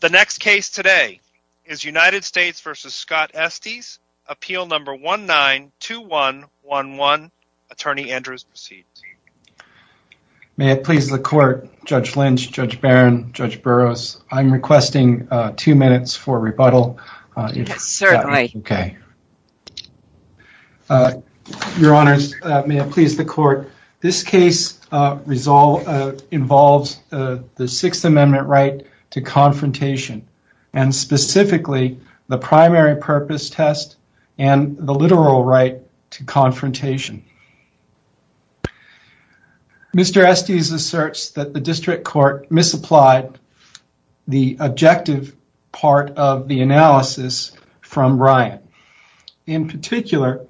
The next case today is United States v. Scott Estes, Appeal No. 19-2111. Attorney Andrews proceeds. May it please the Court, Judge Lynch, Judge Barron, Judge Burroughs, I'm requesting two minutes for rebuttal. Certainly. Okay. Your Honors, may it please the Court, this case involves the Sixth Amendment right to confrontation, and specifically the primary purpose test and the literal right to confrontation. Mr. Estes asserts that the District Court misapplied the objective part of the analysis from Ryan. In particular,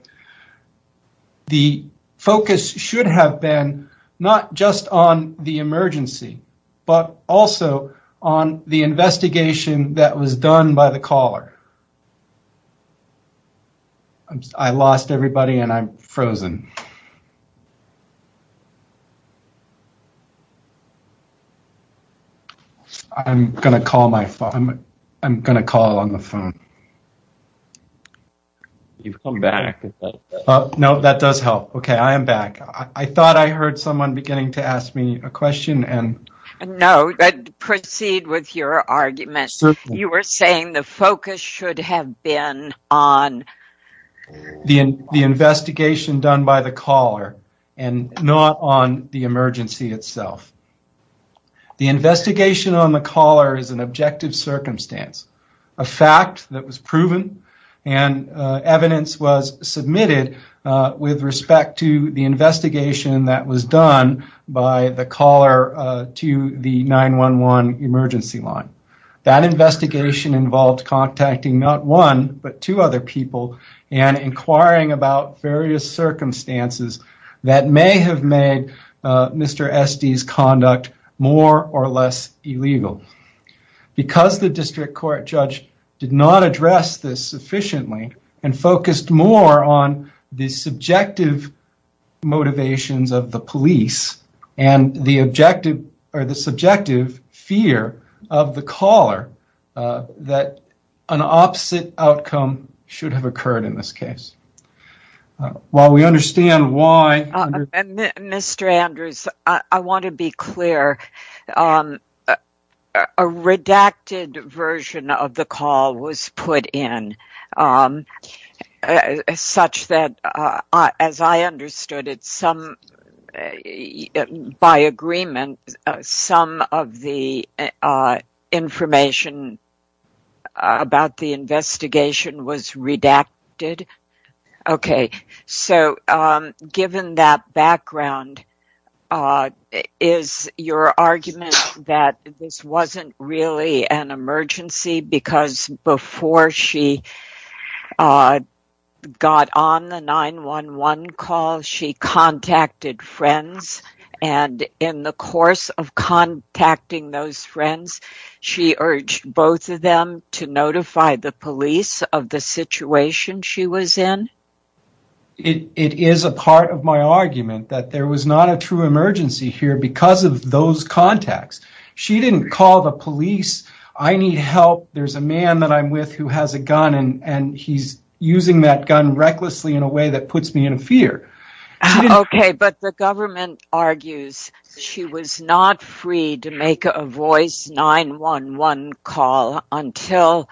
the focus should have been not just on the emergency, but also on the investigation that was done by the caller. I lost everybody and I'm frozen. I'm going to call on the phone. You've come back. No, that does help. Okay, I am back. I thought I heard someone beginning to ask me a question. No, proceed with your argument. Certainly. We're saying the focus should have been on the investigation done by the caller and not on the emergency itself. The investigation on the caller is an objective circumstance, a fact that was proven, and evidence was submitted with respect to the investigation that was done by the caller to the 911 emergency line. That investigation involved contacting not one but two other people and inquiring about various circumstances that may have made Mr. Estes' conduct more or less illegal. Because the District Court judge did not address this sufficiently and focused more on the subjective motivations of the police and the subjective fear of the caller that an opposite outcome should have occurred in this case. While we understand why- Mr. Andrews, I want to be clear. A redacted version of the call was put in such that, as I understood it, by agreement, some of the information about the investigation was redacted. Okay, so given that background, is your argument that this wasn't really an emergency because before she got on the 911 call, she contacted friends, and in the course of contacting those friends, she urged both of them to notify the police of the situation she was in? It is a part of my argument that there was not a true emergency here because of those contacts. She didn't call the police, I need help, there's a man that I'm with who has a gun and he's using that gun recklessly in a way that puts me in fear. Okay, but the government argues she was not free to make a voice 911 call until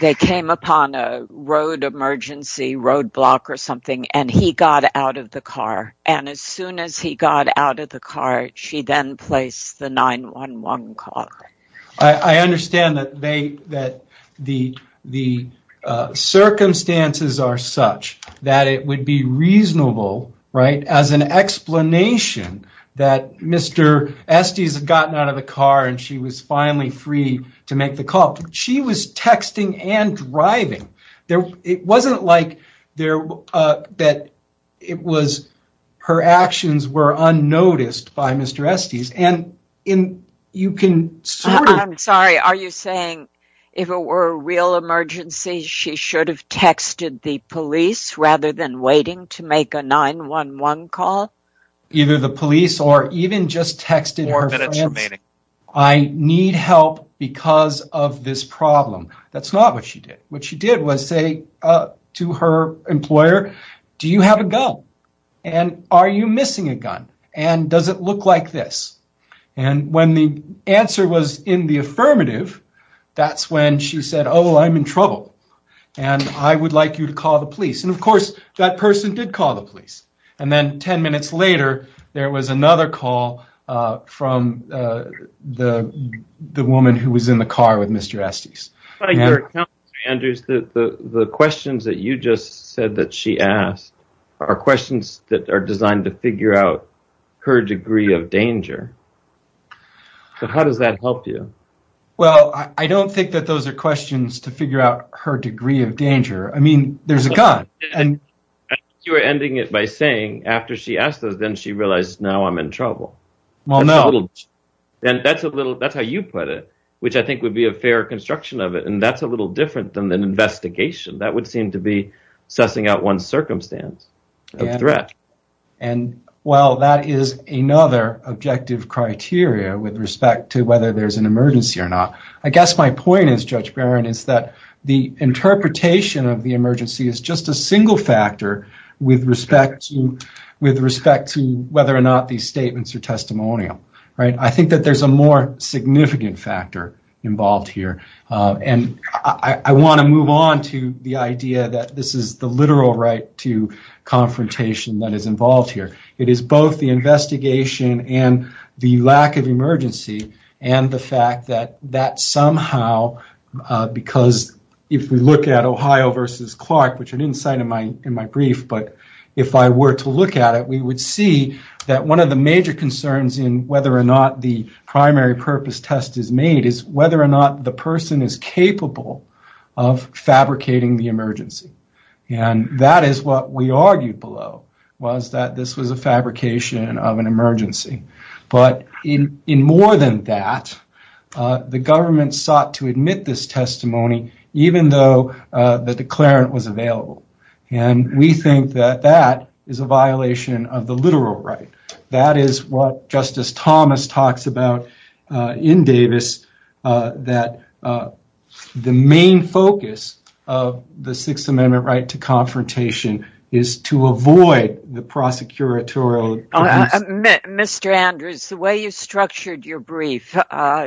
they came upon a road emergency, roadblock or something, and he got out of the car. And as soon as he got out of the car, she then placed the 911 call. I understand that the circumstances are such that it would be reasonable, right, as an explanation that Mr. Estes had gotten out of the car and she was finally free to make the call. She was texting and driving. It wasn't like her actions were unnoticed by Mr. Estes. I'm sorry, are you saying if it were a real emergency, she should have texted the police rather than waiting to make a 911 call? Either the police or even just texting her friends. I need help because of this problem. That's not what she did. What she did was say to her employer, do you have a gun and are you missing a gun? And does it look like this? And when the answer was in the affirmative, that's when she said, oh, I'm in trouble. And I would like you to call the police. And, of course, that person did call the police. And then 10 minutes later, there was another call from the woman who was in the car with Mr. Estes. By your account, Mr. Andrews, the questions that you just said that she asked are questions that are designed to figure out her degree of danger. So how does that help you? Well, I don't think that those are questions to figure out her degree of danger. I mean, there's a gun. You're ending it by saying after she asked those, then she realized, now I'm in trouble. Well, no. That's how you put it, which I think would be a fair construction of it. And that's a little different than an investigation. That would seem to be sussing out one circumstance of threat. And, well, that is another objective criteria with respect to whether there's an emergency or not. I guess my point is, Judge Barron, is that the interpretation of the emergency is just a single factor with respect to whether or not these statements are testimonial. I think that there's a more significant factor involved here. And I want to move on to the idea that this is the literal right to confrontation that is involved here. It is both the investigation and the lack of emergency and the fact that that somehow, because if we look at Ohio versus Clark, which I didn't cite in my brief, but if I were to look at it, we would see that one of the major concerns in whether or not the primary purpose test is made is whether or not the person is capable of fabricating the emergency. And that is what we argued below, was that this was a fabrication of an emergency. But in more than that, the government sought to admit this testimony even though the declarant was available. And we think that that is a violation of the literal right. That is what Justice Thomas talks about in Davis, that the main focus of the Sixth Amendment right to confrontation is to avoid the prosecutorial... Mr. Andrews, the way you structured your brief,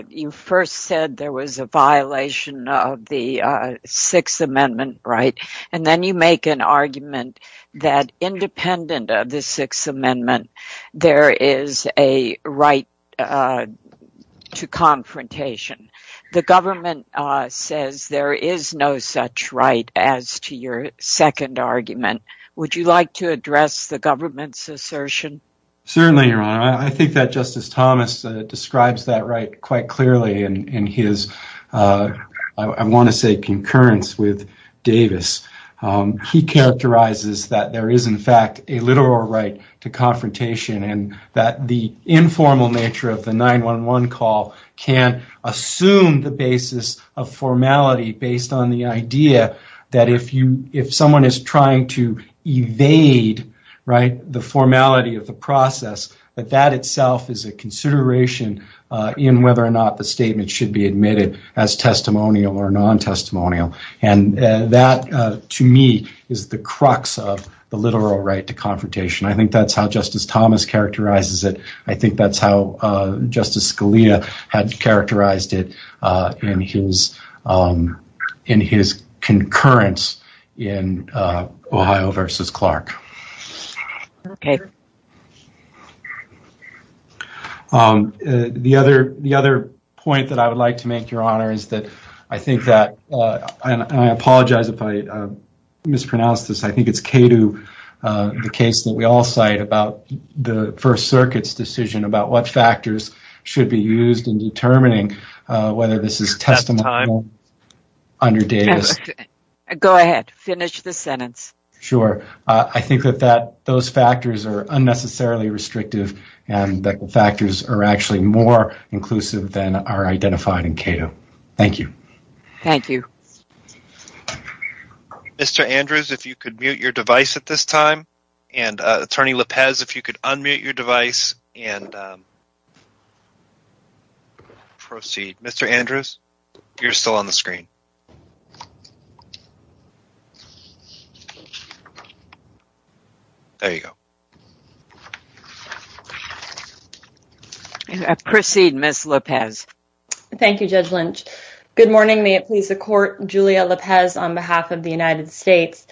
you first said there was a violation of the Sixth Amendment right. And then you make an argument that independent of the Sixth Amendment, there is a right to confrontation. The government says there is no such right as to your second argument. Would you like to address the government's assertion? Certainly, Your Honor. I think that Justice Thomas describes that right quite clearly in his, I want to say, concurrence with Davis. He characterizes that there is, in fact, a literal right to confrontation and that the informal nature of the 911 call can assume the basis of formality based on the idea that if someone is trying to evade, right, the formality of the process, that that itself is a consideration in whether or not the statement should be admitted as testimonial or non-testimonial. And that, to me, is the crux of the literal right to confrontation. I think that's how Justice Thomas characterizes it. I think that's how Justice Scalia had characterized it in his concurrence in Ohio v. Clark. The other point that I would like to make, Your Honor, is that I think that, and I apologize if I mispronounce this, I think it's Cato, the case that we all cite about the First Circuit's decision about what factors should be used in determining whether this is testimonial under Davis. Go ahead, finish the sentence. Sure. I think that those factors are unnecessarily restrictive and that the factors are actually more inclusive than are identified in Cato. Thank you. Thank you. Mr. Andrews, if you could mute your device at this time. And, Attorney Lopez, if you could unmute your device and proceed. Mr. Andrews, you're still on the screen. There you go. Proceed, Ms. Lopez. Thank you, Judge Lynch. Good morning. May it please the Court. Julia Lopez on behalf of the United States.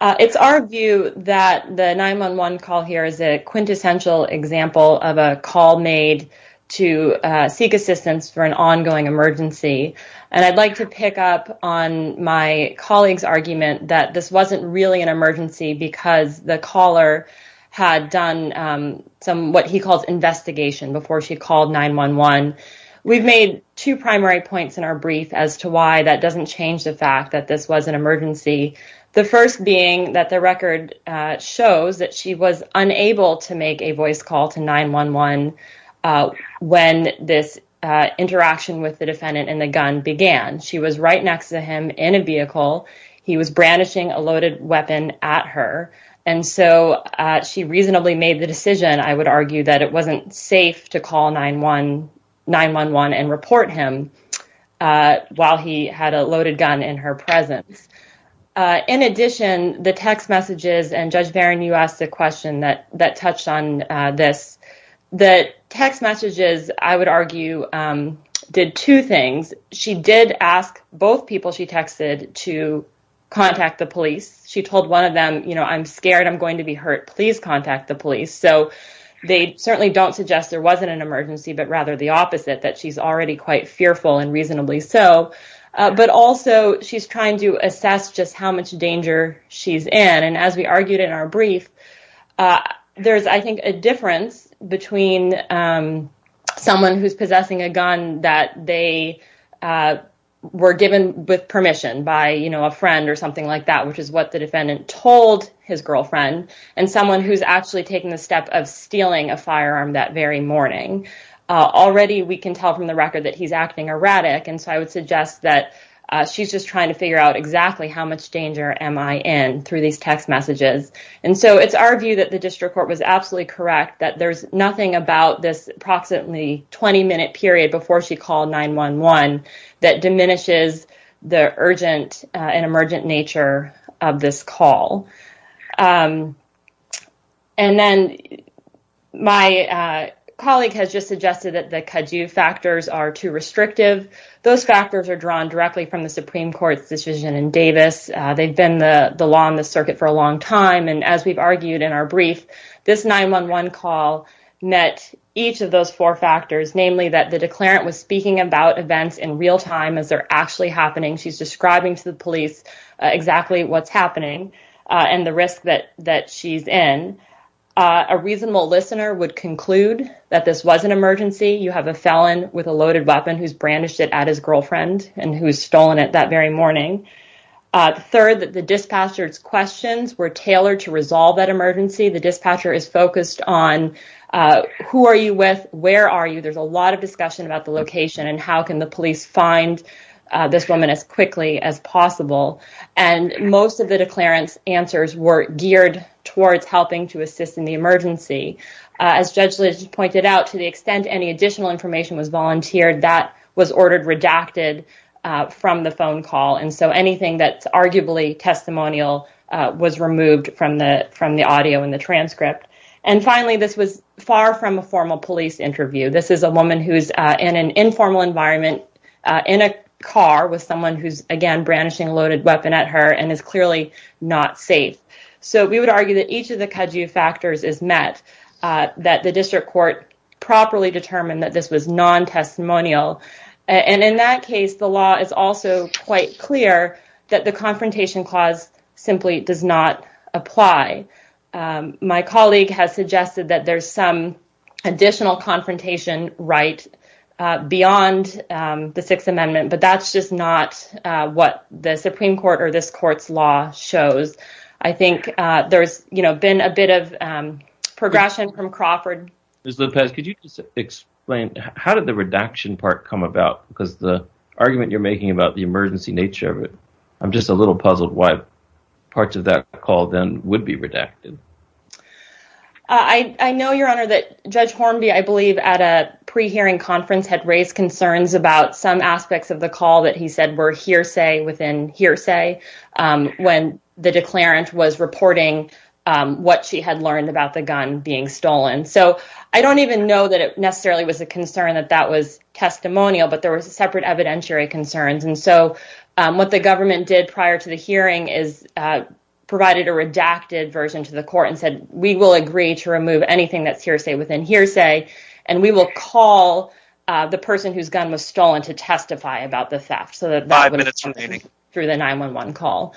It's our view that the 911 call here is a quintessential example of a call made to seek assistance for an ongoing emergency. And I'd like to pick up on my colleague's argument that this wasn't really an emergency because the caller had done what he calls investigation before she called 911. We've made two primary points in our brief as to why that doesn't change the fact that this was an emergency. The first being that the record shows that she was unable to make a voice call to 911 when this interaction with the defendant and the gun began. She was right next to him in a vehicle. He was brandishing a loaded weapon at her. And so she reasonably made the decision, I would argue, that it wasn't safe to call 911 and report him while he had a loaded gun in her presence. In addition, the text messages, and Judge Barron, you asked a question that touched on this. The text messages, I would argue, did two things. She did ask both people she texted to contact the police. She told one of them, I'm scared. I'm going to be hurt. Please contact the police. So they certainly don't suggest there wasn't an emergency, but rather the opposite, that she's already quite fearful and reasonably so. But also, she's trying to assess just how much danger she's in. And as we argued in our brief, there's, I think, a difference between someone who's possessing a gun that they were given with permission by a friend or something like that, which is what the defendant told his girlfriend, and someone who's actually taking the step of stealing a firearm that very morning. Already, we can tell from the record that he's acting erratic. And so I would suggest that she's just trying to figure out exactly how much danger am I in through these text messages. And so it's our view that the district court was absolutely correct that there's nothing about this approximately 20-minute period before she called 911 that diminishes the urgent and emergent nature of this call. And then my colleague has just suggested that the kaju factors are too restrictive. Those factors are drawn directly from the Supreme Court's decision in Davis. They've been the law on the circuit for a long time. And as we've argued in our brief, this 911 call met each of those four factors, namely that the declarant was speaking about events in real time as they're actually happening. She's describing to the police exactly what's happening. And the risk that she's in. A reasonable listener would conclude that this was an emergency. You have a felon with a loaded weapon who's brandished it at his girlfriend and who's stolen it that very morning. Third, that the dispatcher's questions were tailored to resolve that emergency. The dispatcher is focused on, who are you with? Where are you? There's a lot of discussion about the location and how can the police find this woman as quickly as possible. And most of the declarant's answers were geared towards helping to assist in the emergency. As Judge Lynch pointed out, to the extent any additional information was volunteered, that was ordered redacted from the phone call. And so anything that's arguably testimonial was removed from the from the audio and the transcript. And finally, this was far from a formal police interview. This is a woman who's in an informal environment in a car with someone who's, again, brandishing a loaded weapon at her and is clearly not safe. So we would argue that each of the Kaju factors is met, that the district court properly determined that this was non-testimonial. And in that case, the law is also quite clear that the confrontation clause simply does not apply. My colleague has suggested that there's some additional confrontation right beyond the Sixth Amendment. But that's just not what the Supreme Court or this court's law shows. I think there's been a bit of progression from Crawford. Ms. Lopez, could you explain how did the redaction part come about? Because the argument you're making about the emergency nature of it, I'm just a little puzzled why parts of that call then would be redacted. I know, Your Honor, that Judge Hornby, I believe, at a pre-hearing conference had raised concerns about some aspects of the call that he said were hearsay within hearsay. When the declarant was reporting what she had learned about the gun being stolen. So I don't even know that it necessarily was a concern that that was testimonial, but there was separate evidentiary concerns. And so what the government did prior to the hearing is provided a redacted version to the court and said, we will agree to remove anything that's hearsay within hearsay. And we will call the person whose gun was stolen to testify about the theft. Five minutes remaining. Through the 911 call.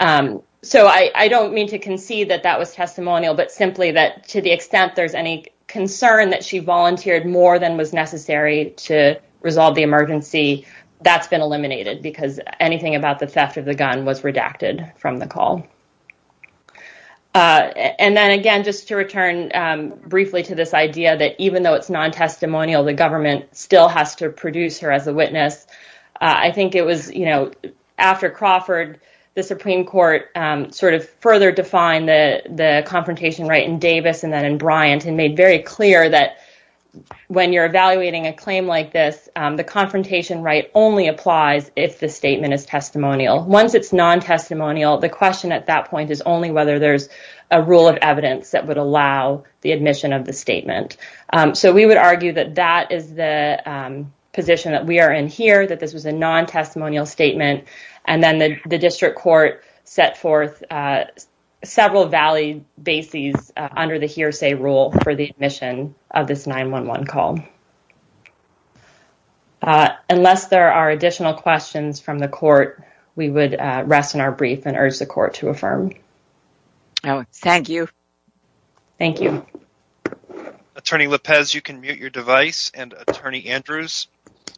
So I don't mean to concede that that was testimonial, but simply that to the extent there's any concern that she volunteered more than was necessary to resolve the emergency. That's been eliminated because anything about the theft of the gun was redacted from the call. And then again, just to return briefly to this idea that even though it's non-testimonial, the government still has to produce her as a witness. I think it was, you know, after Crawford, the Supreme Court sort of further defined the confrontation right in Davis and then in Bryant and made very clear that when you're evaluating a claim like this, the confrontation right only applies if the statement is testimonial. Once it's non-testimonial, the question at that point is only whether there's a rule of evidence that would allow the admission of the statement. So we would argue that that is the position that we are in here, that this was a non-testimonial statement. And then the district court set forth several valid bases under the hearsay rule for the admission of this 911 call. Unless there are additional questions from the court, we would rest in our brief and urge the court to affirm. Thank you. Thank you. Attorney Lopez, you can mute your device. And Attorney Andrews,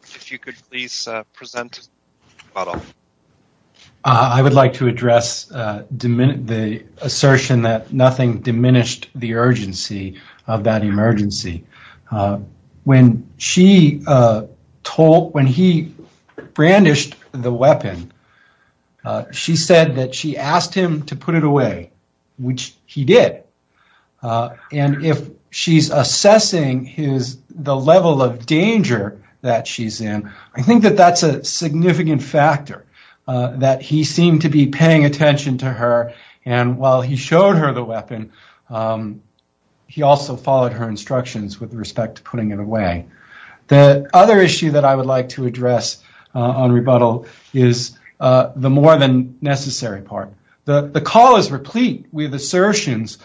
if you could please present your model. I would like to address the assertion that nothing diminished the urgency of that emergency. When she told, when he brandished the weapon, she said that she asked him to put it away, which he did. And if she's assessing his, the level of danger that she's in, I think that that's a significant factor, that he seemed to be paying attention to her and while he showed her the weapon, he also followed her instructions with respect to putting it away. The other issue that I would like to address on rebuttal is the more than necessary part. The call is replete with assertions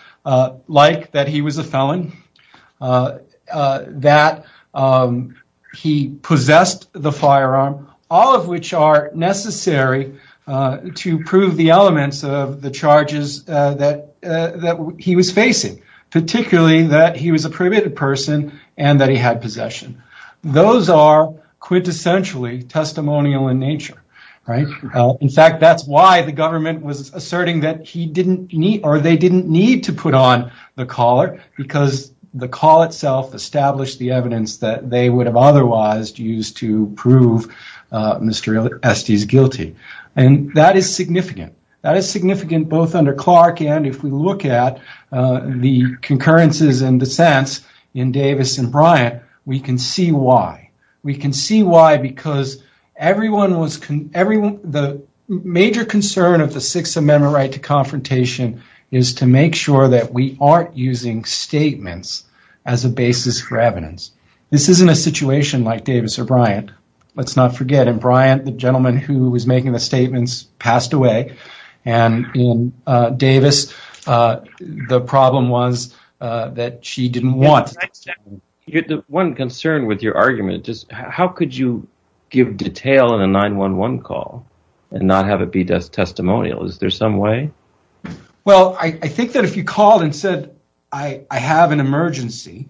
like that he was a felon, that he possessed the firearm, all of which are necessary to prove the elements of the charges that he was facing, particularly that he was a prohibited person and that he had possession. Those are quintessentially testimonial in nature, right? In fact, that's why the government was asserting that he didn't need, or they didn't need to put on the collar because the call itself established the evidence that they would have otherwise used to prove Mr. Estes guilty. And that is significant. That is significant both under Clark and if we look at the concurrences and dissents in Davis and Bryant, we can see why. We can see why because the major concern of the Sixth Amendment right to confrontation is to make sure that we aren't using statements as a basis for evidence. This isn't a situation like Davis or Bryant. Let's not forget in Bryant, the gentleman who was making the statements passed away and in Davis, the problem was that she didn't want… One concern with your argument is how could you give detail in a 911 call and not have it be testimonial? Is there some way? Well, I think that if you called and said, I have an emergency…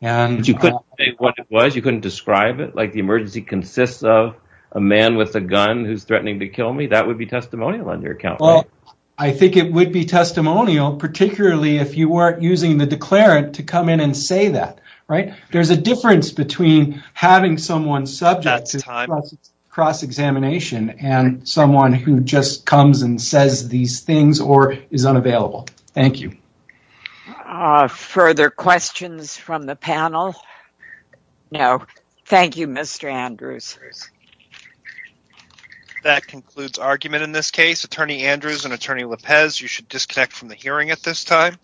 But you couldn't say what it was? You couldn't describe it? Like the emergency consists of a man with a gun who's threatening to kill me? That would be testimonial on your account, right? Well, I think it would be testimonial particularly if you weren't using the declarant to come in and say that. There's a difference between having someone subject to cross-examination and someone who just comes and says these things or is unavailable. Thank you. Further questions from the panel? No. Thank you, Mr. Andrews. That concludes argument in this case. Attorney Andrews and Attorney Lopez, you should disconnect from the hearing at this time.